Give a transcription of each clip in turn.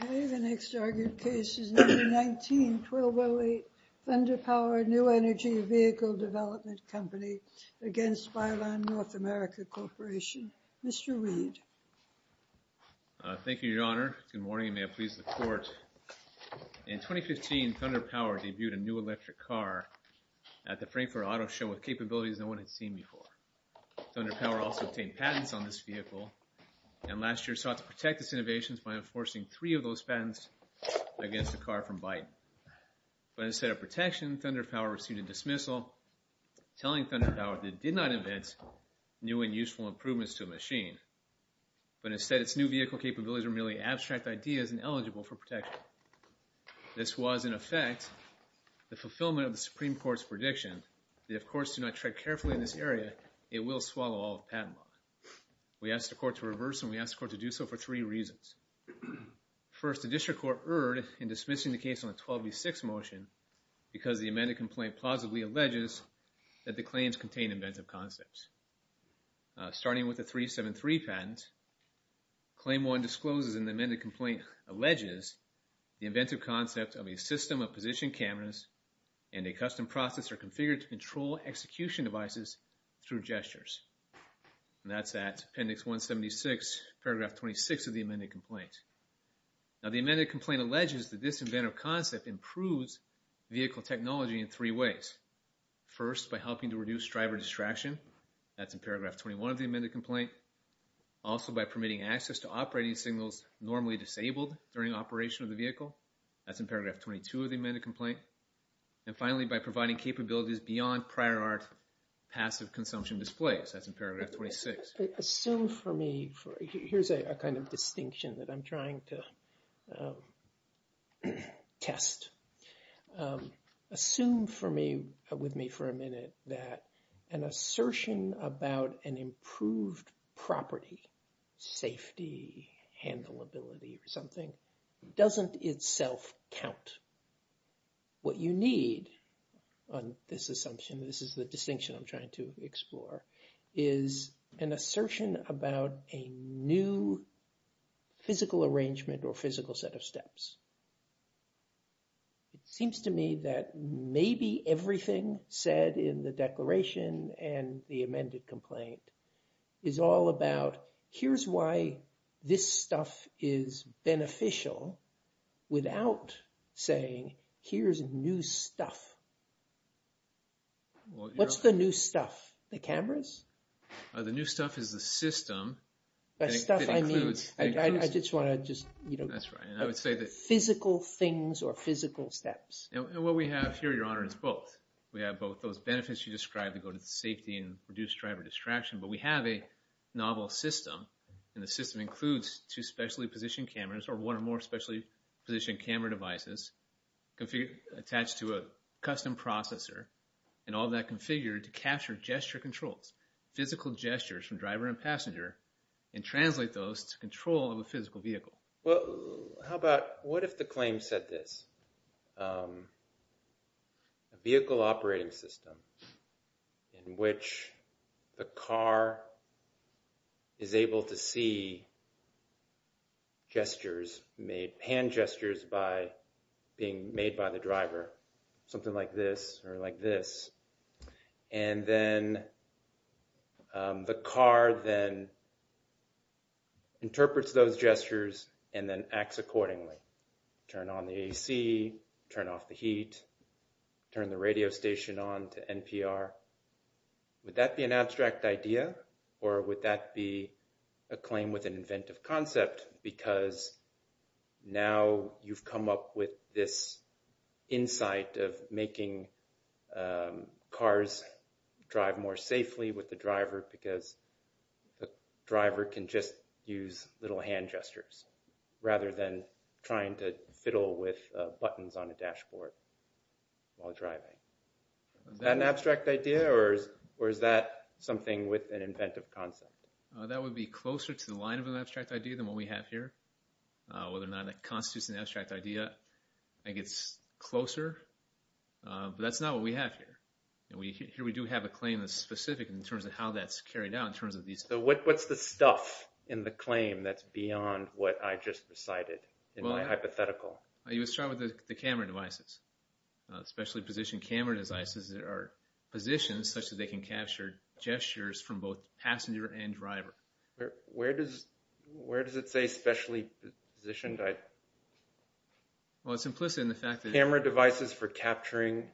Okay, the next argued case is number 19, 1208 Thunder Power New Energy Vehicle Development Company v. Byton North America Corp. Mr. Reed. Thank you, Your Honor. Good morning, and may it please the Court. In 2015, Thunder Power debuted a new electric car at the Frankfurt Auto Show with capabilities no one had seen before. Thunder Power also obtained patents on this vehicle, and last year sought to protect its innovations by enforcing three of those patents against a car from Byton. But instead of protection, Thunder Power received a dismissal telling Thunder Power that it did not invent new and useful improvements to a machine, but instead its new vehicle capabilities were merely abstract ideas and eligible for protection. This was, in effect, the fulfillment of the Supreme Court's prediction that if courts do not tread carefully in this area, it will swallow all of patent law. We asked the Court to reverse, and we asked the Court to do so for three reasons. First, the District Court erred in dismissing the case on the 12B6 motion because the amended complaint plausibly alleges that the claims contain inventive concepts. Starting with the 373 patent, Claim 1 discloses an amended complaint alleges the inventive concept of a system of position cameras and a custom processor configured to control execution devices through gestures. And that's at Appendix 176, Paragraph 26 of the amended complaint. Now, the amended complaint alleges that this inventive concept improves vehicle technology in three ways. First, by helping to reduce driver distraction. That's in Paragraph 21 of the amended complaint. Also, by permitting access to operating signals normally disabled during operation of the vehicle. That's in Paragraph 22 of the amended complaint. And finally, by providing capabilities beyond prior art passive consumption displays. That's in Paragraph 26. Assume for me, here's a kind of distinction that I'm trying to test. Assume for me, with me for a minute, that an assertion about an improved property, safety, handleability or something, doesn't itself count. What you need on this assumption, this is the distinction I'm trying to explore, is an assertion about a new physical arrangement or physical set of steps. It seems to me that maybe everything said in the declaration and the amended complaint is all about, here's why this stuff is beneficial without saying, here's new stuff. What's the new stuff? The cameras? The new stuff is the system. The stuff I mean, I just want to just, you know, physical things or physical steps. And what we have here, Your Honor, is both. We have both those benefits you described to go to safety and reduce driver distraction, but we have a novel system and the system includes two specially positioned cameras or one or more specially positioned camera devices attached to a custom processor and all that configured to capture gesture controls, physical gestures from driver and passenger and translate those to control of a physical vehicle. Well, how about, what if the claim said this? A vehicle operating system in which the car is able to see gestures, hand gestures, by being made by the driver, something like this or like this. And then the car then interprets those gestures and then acts accordingly. Turn on the AC, turn off the heat, turn the radio station on to NPR. Would that be an abstract idea or would that be a claim with an inventive concept? Because now you've come up with this insight of making cars drive more safely with the driver because the driver can just use little hand gestures rather than trying to fiddle with buttons on a dashboard while driving. Is that an abstract idea or is that something with an inventive concept? That would be closer to the line of an abstract idea than what we have here. Whether or not that constitutes an abstract idea, I think it's closer, but that's not what we have here. Here we do have a claim that's specific in terms of how that's carried out in terms of these... So what's the stuff in the claim that's beyond what I just recited in my hypothetical? Well, you start with the camera devices, specially positioned camera devices that are positioned such that they can capture gestures from both passenger and driver. Where does it say specially positioned? Well, it's implicit in the fact that... Camera devices for capturing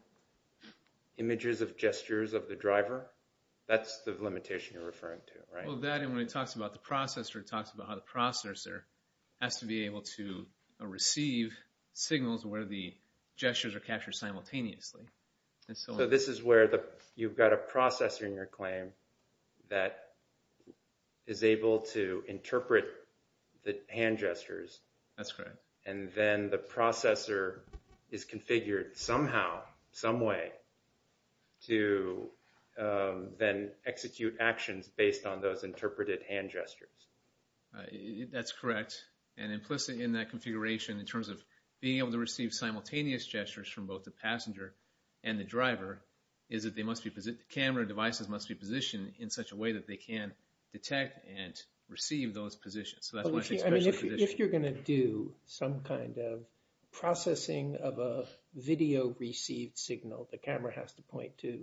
images of gestures of the driver? That's the limitation you're referring to, right? Well, that and when it talks about the processor, it talks about how the processor has to be able to receive signals where the gestures are captured simultaneously. So this is where you've got a processor in your claim that is able to interpret the hand gestures. That's correct. And then the processor is configured somehow, some way, to then execute actions based on those interpreted hand gestures. That's correct. And implicit in that configuration in terms of being able to receive simultaneous gestures from both the passenger and the driver is that the camera devices must be positioned in such a way that they can detect and receive those positions. If you're going to do some kind of processing of a video received signal, the camera has to point to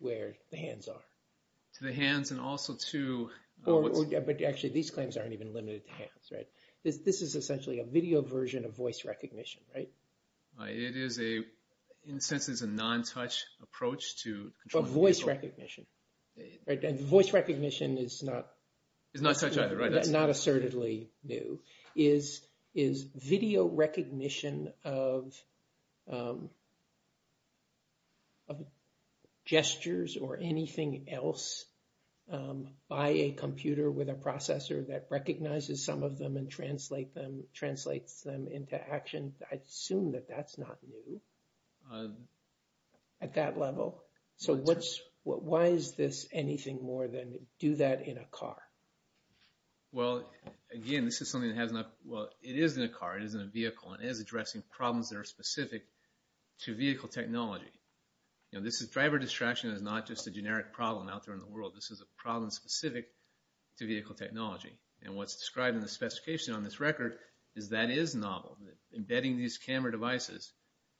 where the hands are. To the hands and also to... Actually, these claims aren't even limited to hands, right? This is essentially a video version of voice recognition, right? It is a, in a sense, it's a non-touch approach to controlling... But voice recognition, right? And voice recognition is not... It's not touch either, right? Not assertedly new. Is video recognition of gestures or anything else by a computer with a processor that recognizes some of them and translates them into action, I'd assume that that's not new at that level. So why is this anything more than do that in a car? Well, again, this is something that has not... Well, it is in a car, it is in a vehicle, and it is addressing problems that are specific to vehicle technology. You know, driver distraction is not just a generic problem out there in the world. This is a problem specific to vehicle technology. And what's described in the specification on this record is that is novel. Embedding these camera devices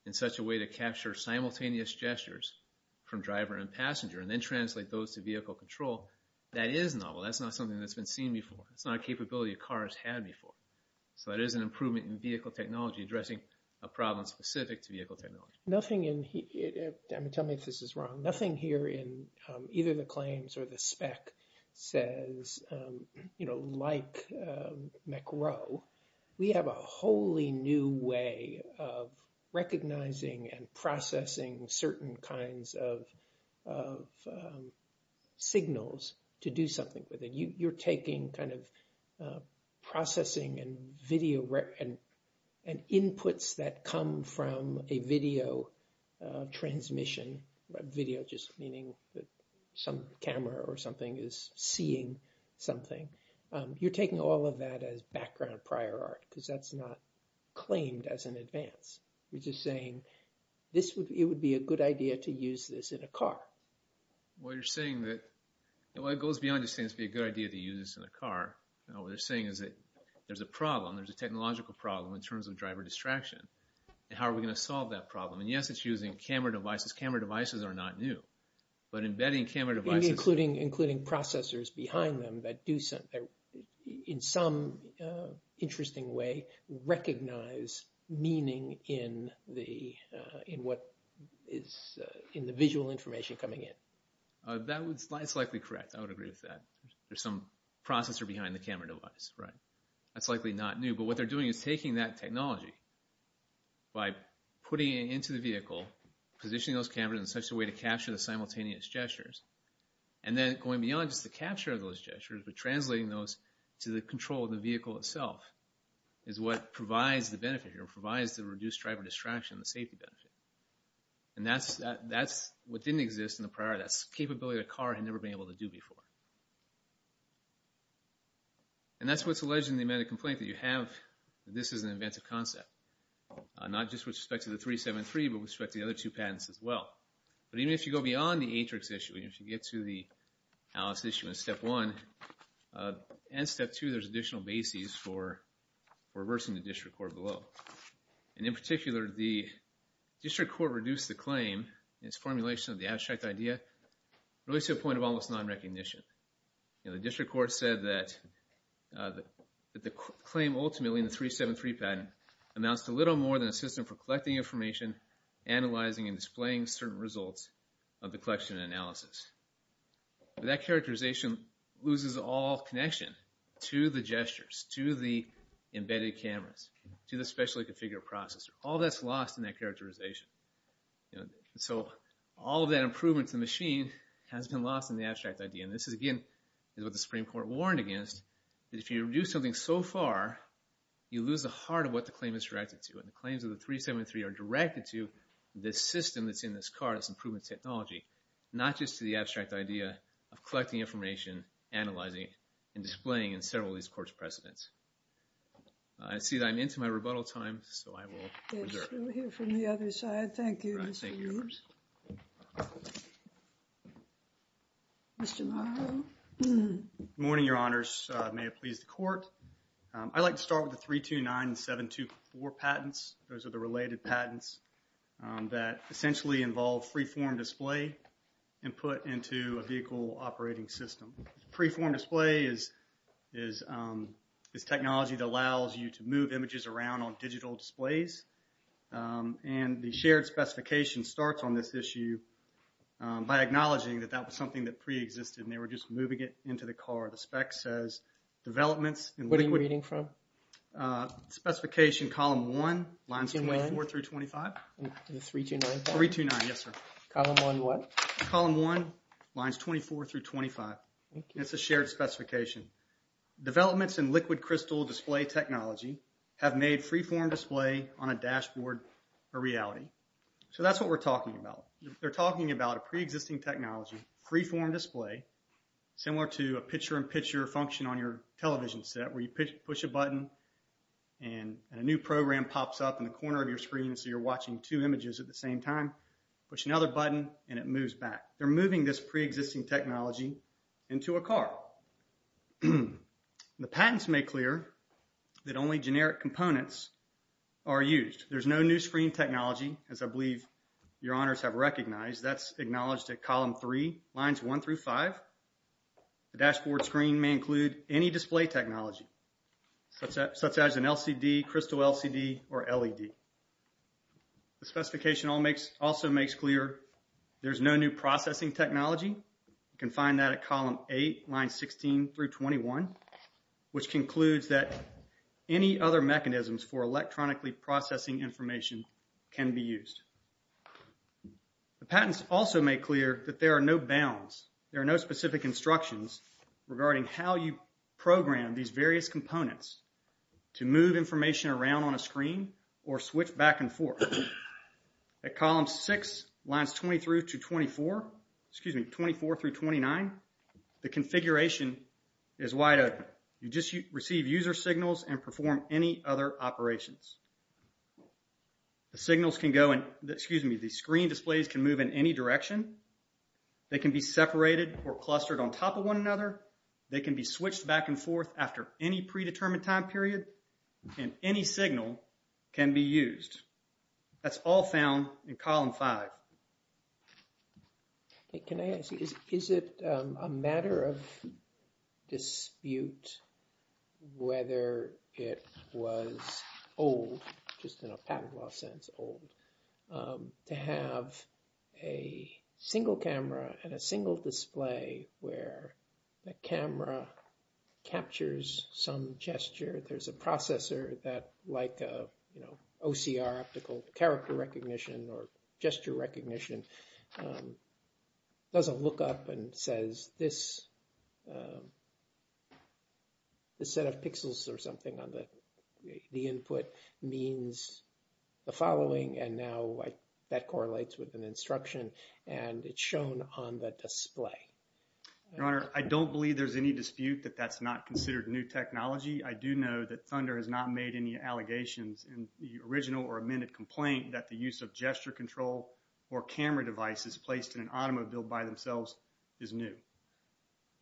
in such a way to capture simultaneous gestures from driver and passenger and then translate those to vehicle control, that is novel. That's not something that's been seen before. It's not a capability a car has had before. So that is an improvement in vehicle technology, addressing a problem specific to vehicle technology. Nothing in here... I mean, tell me if this is wrong. Nothing here in either the claims or the spec says, you know, like MECRO, we have a wholly new way of recognizing and processing certain kinds of signals to do something with it. You're taking kind of processing and video and inputs that come from a video transmission, video just meaning that some camera or something is seeing something. You're taking all of that as background prior art because that's not claimed as an advance. You're just saying it would be a good idea to use this in a car. Well, you're saying that... Well, it goes beyond just saying it would be a good idea to use this in a car. What you're saying is that there's a problem. There's a technological problem in terms of driver distraction. How are we going to solve that problem? And, yes, it's using camera devices. Camera devices are not new. But embedding camera devices... Including processors behind them that do, in some interesting way, recognize meaning in the visual information coming in. That's likely correct. I would agree with that. There's some processor behind the camera device, right? That's likely not new. But what they're doing is taking that technology by putting it into the vehicle, positioning those cameras in such a way to capture the simultaneous gestures, and then going beyond just the capture of those gestures but translating those to the control of the vehicle itself is what provides the benefit here, provides the reduced driver distraction, the safety benefit. And that's what didn't exist in the prior. That's a capability a car had never been able to do before. And that's what's alleging the amount of complaint that you have that this is an inventive concept, not just with respect to the 373 but with respect to the other two patents as well. But even if you go beyond the Atrix issue, if you get to the Alice issue in Step 1 and Step 2, there's additional bases for reversing the district court below. And in particular, the district court reduced the claim in its formulation of the abstract idea really to a point of almost nonrecognition. The district court said that the claim ultimately in the 373 patent amounts to little more than a system for collecting information, analyzing and displaying certain results of the collection and analysis. But that characterization loses all connection to the gestures, to the embedded cameras, to the specially configured processor. All that's lost in that characterization. And so all of that improvement to the machine has been lost in the abstract idea. And this, again, is what the Supreme Court warned against, that if you reduce something so far, you lose the heart of what the claim is directed to. And the claims of the 373 are directed to this system that's in this card, this improvement technology, not just to the abstract idea of collecting information, analyzing and displaying in several of these courts' precedents. I see that I'm into my rebuttal time, so I will reserve it. We'll hear from the other side. Thank you, Mr. Hughes. Mr. Morrow. Good morning, Your Honors. May it please the Court. I'd like to start with the 329724 patents. Those are the related patents that essentially involve freeform display and put into a vehicle operating system. Freeform display is technology that allows you to move images around on digital displays. And the shared specification starts on this issue by acknowledging that that was something that preexisted and they were just moving it into the car. The spec says developments in liquid… What are you reading from? Specification column 1, lines 24 through 25. Is it 329? 329, yes, sir. Column 1 what? Column 1, lines 24 through 25. Thank you. It's a shared specification. Developments in liquid crystal display technology have made freeform display on a dashboard a reality. So that's what we're talking about. They're talking about a preexisting technology, freeform display, similar to a picture-in-picture function on your television set where you push a button and a new program pops up in the corner of your screen so you're watching two images at the same time. Push another button and it moves back. They're moving this preexisting technology into a car. The patents make clear that only generic components are used. There's no new screen technology, as I believe your honors have recognized. That's acknowledged at column 3, lines 1 through 5. The dashboard screen may include any display technology such as an LCD, crystal LCD, or LED. The specification also makes clear there's no new processing technology. You can find that at column 8, lines 16 through 21, which concludes that any other mechanisms for electronically processing information can be used. The patents also make clear that there are no bounds. There are no specific instructions regarding how you program these various components to move information around on a screen or switch back and forth. At column 6, lines 24 through 29, the configuration is wide open. You just receive user signals and perform any other operations. The signals can go in, excuse me, the screen displays can move in any direction. They can be separated or clustered on top of one another. They can be switched back and forth after any predetermined time period. And any signal can be used. That's all found in column 5. Can I ask, is it a matter of dispute whether it was old, just in a patent law sense, old, to have a single camera and a single display where the camera captures some gesture? There's a processor that, like OCR, optical character recognition, or gesture recognition, doesn't look up and says, this set of pixels or something on the input means the following. And now that correlates with an instruction. And it's shown on the display. Your Honor, I don't believe there's any dispute that that's not considered new technology. I do know that Thunder has not made any allegations in the original or amended complaint that the use of gesture control or camera devices placed in an automobile by themselves is new.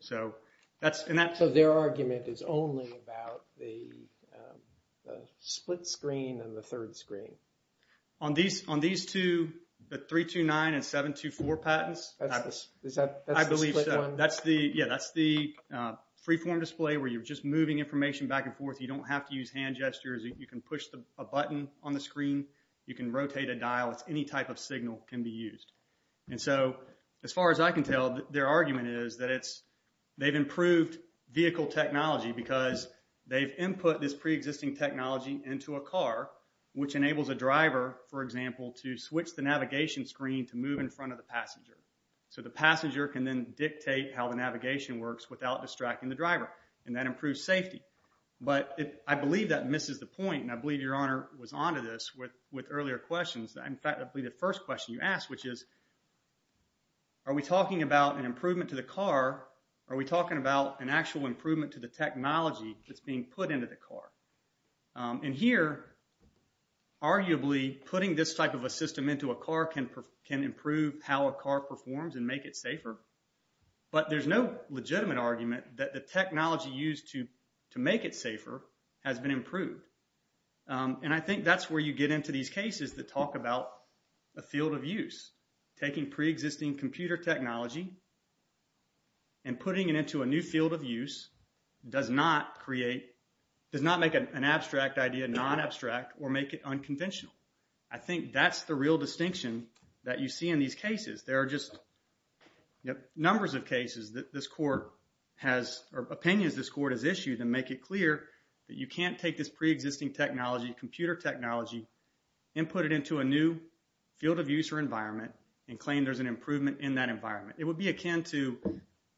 So their argument is only about the split screen and the third screen. On these two, the 329 and 724 patents, I believe that's the freeform display where you're just moving information back and forth. You don't have to use hand gestures. You can push a button on the screen. You can rotate a dial. Any type of signal can be used. And so as far as I can tell, their argument is that they've improved vehicle technology because they've input this preexisting technology into a car, which enables a driver, for example, to switch the navigation screen to move in front of the passenger. So the passenger can then dictate how the navigation works without distracting the driver, and that improves safety. But I believe that misses the point, and I believe Your Honor was onto this with earlier questions. In fact, I believe the first question you asked, which is, are we talking about an improvement to the car? Are we talking about an actual improvement to the technology that's being put into the car? And here, arguably, putting this type of a system into a car can improve how a car performs and make it safer. But there's no legitimate argument that the technology used to make it safer has been improved. And I think that's where you get into these cases that talk about a field of use. Taking preexisting computer technology and putting it into a new field of use does not make an abstract idea non-abstract or make it unconventional. I think that's the real distinction that you see in these cases. There are just numbers of cases that this Court has, or opinions this Court has issued that make it clear that you can't take this preexisting technology, computer technology, and put it into a new field of use or environment and claim there's an improvement in that environment. It would be akin to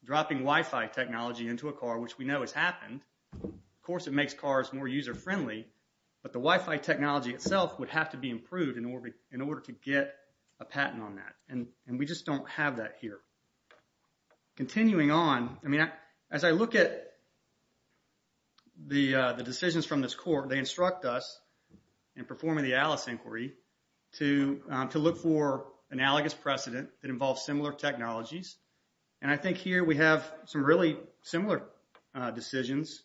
dropping Wi-Fi technology into a car, which we know has happened. Of course, it makes cars more user-friendly, but the Wi-Fi technology itself would have to be improved in order to get a patent on that, and we just don't have that here. Continuing on, as I look at the decisions from this Court, they instruct us in performing the ALICE inquiry to look for analogous precedent that involves similar technologies. And I think here we have some really similar decisions.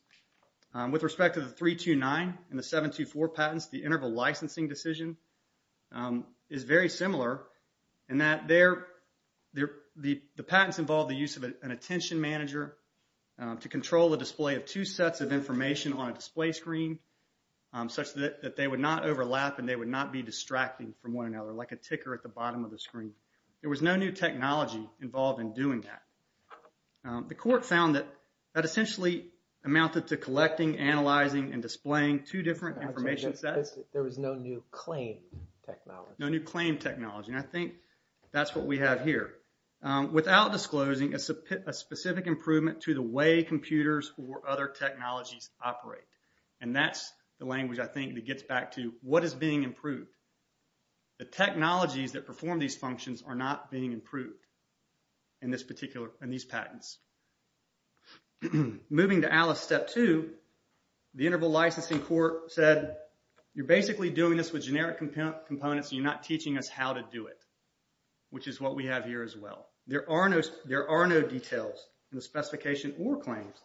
With respect to the 329 and the 724 patents, the interval licensing decision is very similar in that the patents involve the use of an attention manager to control the display of two sets of information on a display screen such that they would not overlap and they would not be distracting from one another like a ticker at the bottom of the screen. There was no new technology involved in doing that. The Court found that that essentially amounted to collecting, analyzing, and displaying two different information sets. There was no new claim technology. And I think that's what we have here. Without disclosing a specific improvement to the way computers or other technologies operate. And that's the language, I think, that gets back to what is being improved. The technologies that perform these functions are not being improved in these patents. Moving to ALICE Step 2, the Interval Licensing Court said, you're basically doing this with generic components and you're not teaching us how to do it, which is what we have here as well. There are no details in the specification or claims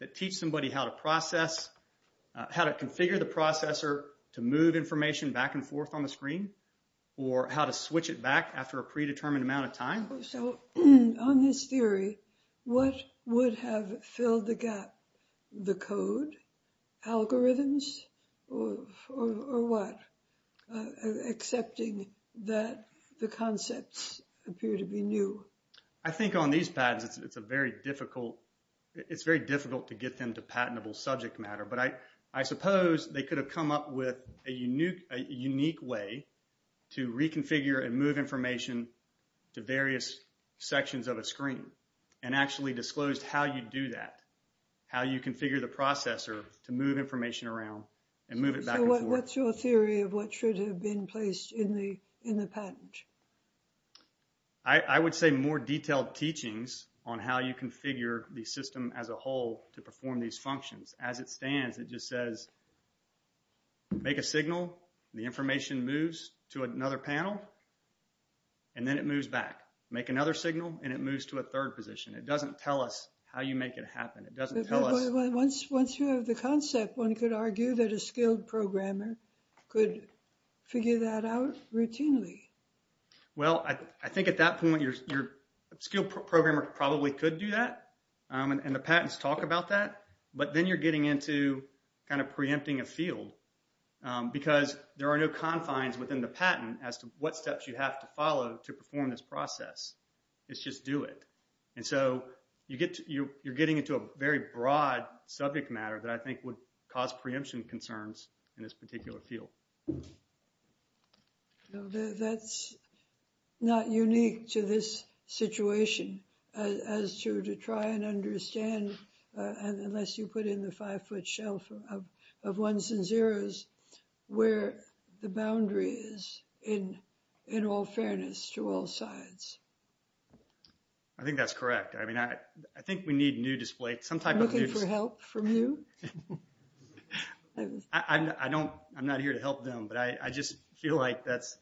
that teach somebody how to process, how to configure the processor to move information back and forth on the screen, or how to switch it back after a predetermined amount of time. So, on this theory, what would have filled the gap? The code? Algorithms? Or what? Accepting that the concepts appear to be new. I think on these patents, it's a very difficult, it's very difficult to get them to patentable subject matter. But I suppose they could have come up with a unique way to reconfigure and move information to various sections of a screen. And actually disclosed how you do that. How you configure the processor to move information around and move it back and forth. So, what's your theory of what should have been placed in the patent? I would say more detailed teachings on how you configure the system as a whole to perform these functions. As it stands, it just says, make a signal, the information moves to another panel, and then it moves back. Make another signal, and it moves to a third position. It doesn't tell us how you make it happen. It doesn't tell us... But once you have the concept, one could argue that a skilled programmer could figure that out routinely. Well, I think at that point, your skilled programmer probably could do that. And the patents talk about that. But then you're getting into kind of preempting a field. Because there are no confines within the patent as to what steps you have to follow to perform this process. It's just do it. And so, you're getting into a very broad subject matter that I think would cause preemption concerns in this particular field. That's not unique to this situation as to try and understand, unless you put in the five-foot shelf of ones and zeros, where the boundary is in all fairness to all sides. I think that's correct. I mean, I think we need new display... Looking for help from you? I'm not here to help them. But I just feel like that's...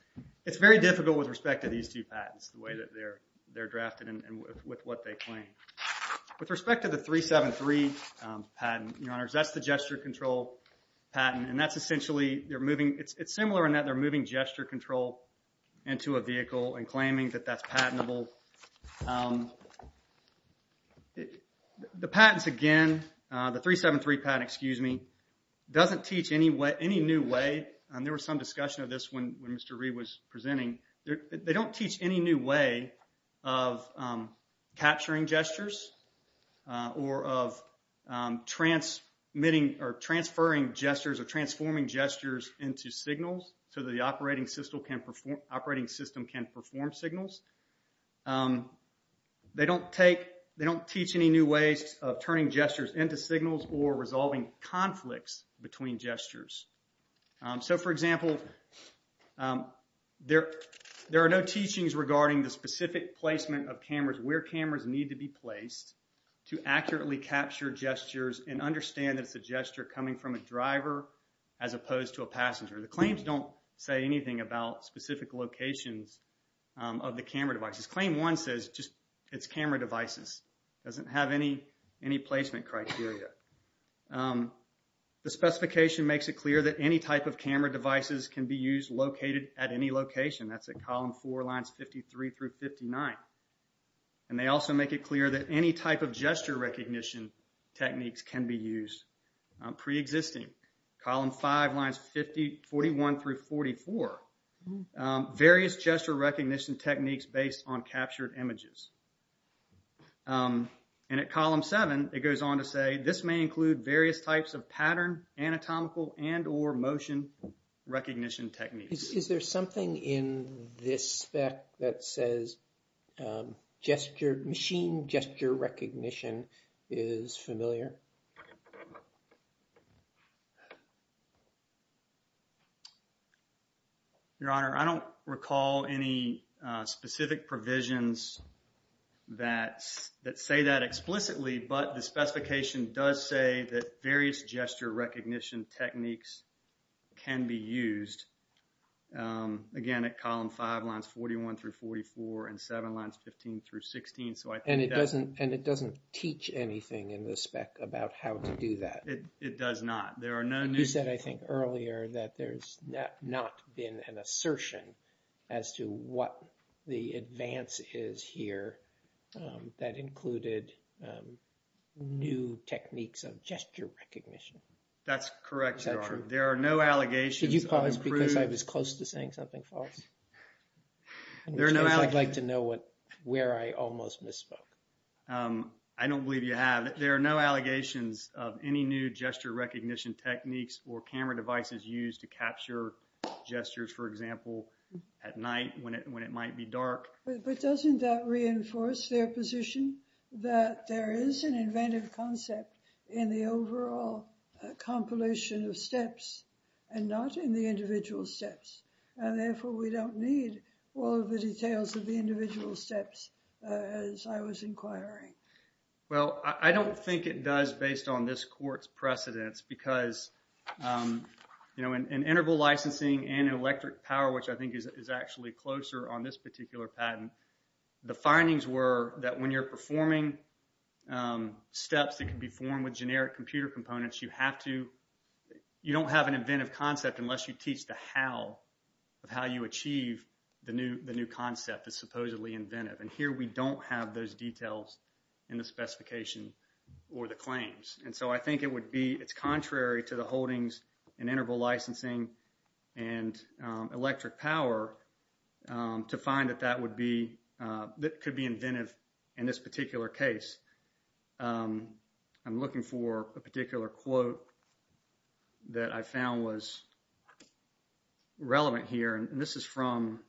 It's very difficult with respect to these two patents, the way that they're drafted and with what they claim. With respect to the 373 patent, that's the gesture control patent. And that's essentially... It's similar in that they're moving gesture control into a vehicle and claiming that that's patentable. The patents, again... The 373 patent, excuse me, doesn't teach any new way... There was some discussion of this when Mr. Reed was presenting. They don't teach any new way of capturing gestures or of transmitting or transferring gestures or transforming gestures into signals so that the operating system can perform signals. They don't teach any new ways of turning gestures into signals or resolving conflicts between gestures. So, for example, there are no teachings regarding the specific placement of cameras, where cameras need to be placed to accurately capture gestures and understand that it's a gesture coming from a driver as opposed to a passenger. The claims don't say anything about specific locations of the camera devices. Claim 1 says it's camera devices. It doesn't have any placement criteria. The specification makes it clear that any type of camera devices can be used located at any location. That's at column 4, lines 53 through 59. And they also make it clear that any type of gesture recognition techniques can be used pre-existing. Column 5, lines 41 through 44. Various gesture recognition techniques based on captured images. And at column 7, it goes on to say, this may include various types of pattern, anatomical and or motion recognition techniques. Is there something in this spec that says gesture, machine gesture recognition is familiar? Your Honor, I don't recall any specific provisions that say that explicitly, but the specification does say that various gesture recognition techniques can be used. Again, at column 5, lines 41 through 44, and 7, lines 15 through 16. And it doesn't teach anything in the spec about how to do that. It does not. There are no new... You said, I think, earlier that there's not been an assertion as to what the advance is here that included new techniques of gesture recognition. That's correct, Your Honor. Is that true? There are no allegations... Did you call this because I was close to saying something false? There are no allegations... I'd like to know where I almost misspoke. I don't believe you have. There are no allegations of any new gesture recognition techniques or camera devices used to capture gestures, for example, at night when it might be dark. But doesn't that reinforce their position that there is an inventive concept in the overall compilation of steps and not in the individual steps? And therefore, we don't need all of the details of the individual steps as I was inquiring. Well, I don't think it does based on this court's precedence because in interval licensing and in electric power, which I think is actually closer on this particular patent, the findings were that when you're performing steps that can be formed with generic computer components, you don't have an inventive concept unless you teach the how of how you achieve the new concept that's supposedly inventive. And here we don't have those details in the specification or the claims. And so I think it would be... It's contrary to the holdings in interval licensing and electric power to find that that would be... that could be inventive in this particular case. I'm looking for a particular quote that I found was relevant here. And this is from...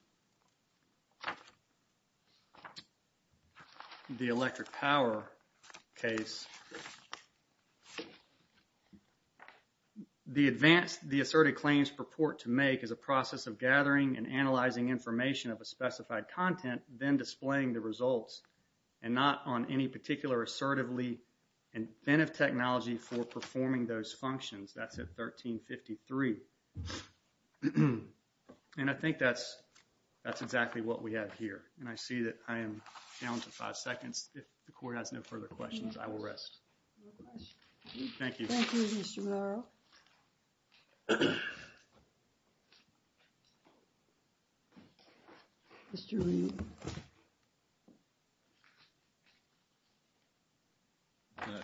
the electric power case. The advanced... The asserted claims purport to make is a process of gathering and analyzing information of a specified content, then displaying the results and not on any particular assertively inventive technology for performing those functions. That's at 1353. And I think that's exactly what we have here. And I see that I am down to five seconds. If the court has no further questions, I will rest. Thank you. Thank you, Mr. Monroe. Mr. Lee.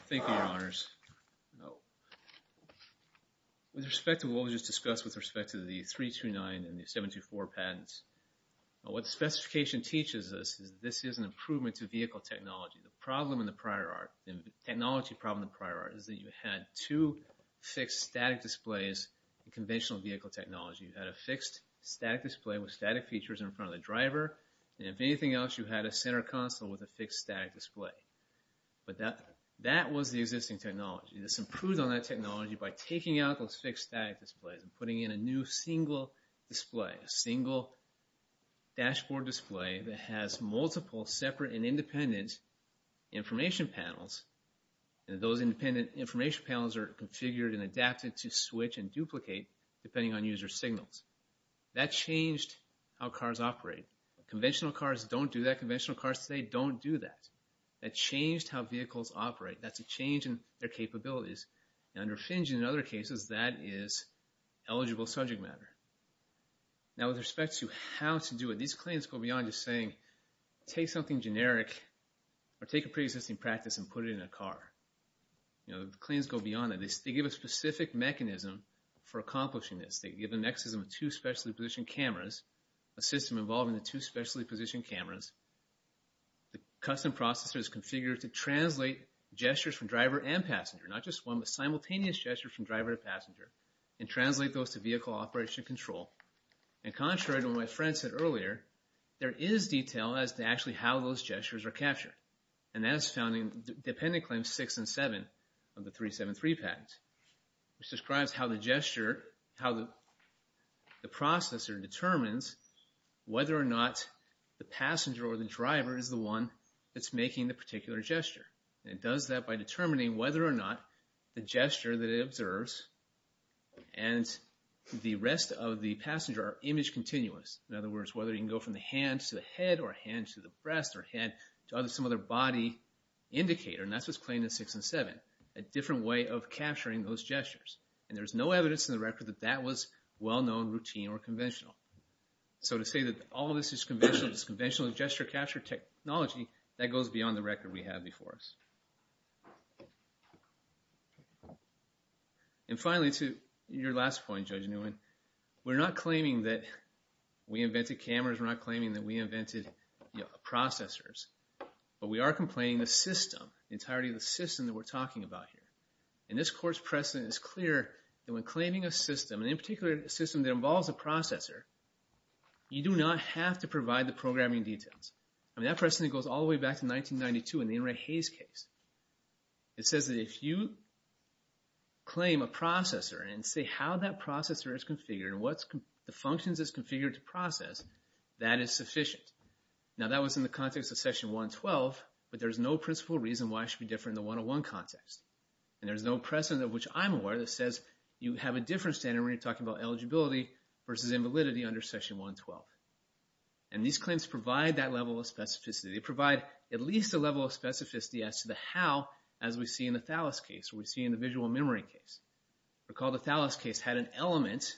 Thank you, Your Honors. With respect to what was just discussed with respect to the 329 and the 724 patents, what the specification teaches us is this is an improvement to vehicle technology. The problem in the prior art, the technology problem in the prior art is that you had two fixed static displays in conventional vehicle technology. You had a fixed static display with static features in front of the driver. And if anything else, you had a center console with a fixed static display. But that was the existing technology. This improved on that technology by taking out those fixed static displays and putting in a new single display, a single dashboard display that has multiple separate and independent information panels. And those independent information panels are configured and adapted to switch and duplicate depending on user signals. That changed how cars operate. Conventional cars don't do that. Conventional cars today don't do that. That changed how vehicles operate. That's a change in their capabilities. And under Finjin and other cases, that is eligible subject matter. Now, with respect to how to do it, these claims go beyond just saying take something generic or take a pre-existing practice and put it in a car. You know, the claims go beyond that. They give a specific mechanism for accomplishing this. They give a mechanism of two specially positioned cameras, a system involving the two specially positioned cameras. The custom processor is configured to translate gestures from driver and passenger, not just one, but simultaneous gestures from driver to passenger, and translate those to vehicle operation and control. And contrary to what my friend said earlier, there is detail as to actually how those gestures are captured. And that is found in dependent claims 6 and 7 of the 373 patent, which describes how the gesture, how the processor determines whether or not the passenger or the driver is the one that's making the particular gesture. And it does that by determining whether or not the gesture that it observes and the rest of the passenger are image continuous. In other words, whether you can go from the hands to the head or hands to the breast or head to some other body indicator, and that's what's claimed in 6 and 7, a different way of capturing those gestures. And there's no evidence in the record that that was well-known, routine, or conventional. So to say that all of this is conventional, this conventional gesture capture technology, that goes beyond the record we have before us. And finally, to your last point, Judge Nguyen, we're not claiming that we invented cameras. We're not claiming that we invented processors. But we are complaining the system, the entirety of the system that we're talking about here. And this Court's precedent is clear that when claiming a system, and in particular a system that involves a processor, you do not have to provide the programming details. I mean, that precedent goes all the way back to 1992 in the Enright-Hayes case. It says that if you claim a processor and say how that processor is configured and the functions it's configured to process, that is sufficient. Now, that was in the context of Session 112, but there's no principal reason why it should be different in the 101 context. And there's no precedent of which I'm aware that says you have a different standard when you're talking about eligibility versus invalidity under Session 112. And these claims provide that level of specificity. They provide at least a level of specificity as to the how, as we see in the Thales case, or we see in the visual memory case. Recall the Thales case had an element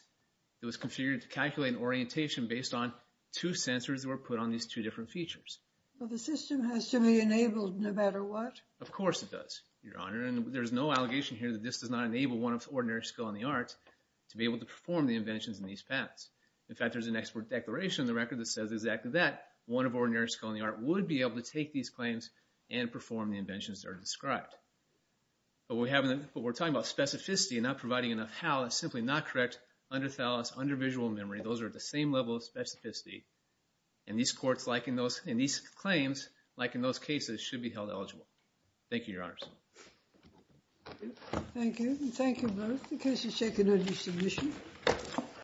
that was configured to calculate an orientation based on two sensors that were put on these two different features. Well, the system has to be enabled no matter what. Of course it does, Your Honor. And there's no allegation here that this does not enable one of ordinary skill in the arts to be able to perform the inventions in these paths. In fact, there's an expert declaration in the record that says exactly that. One of ordinary skill in the art would be able to take these claims and perform the inventions that are described. But we're talking about specificity and not providing enough how is simply not correct under Thales, under visual memory. Those are at the same level of specificity. And these claims, like in those cases, should be held eligible. Thank you, Your Honor. Thank you. Thank you both. The case is taken under submission.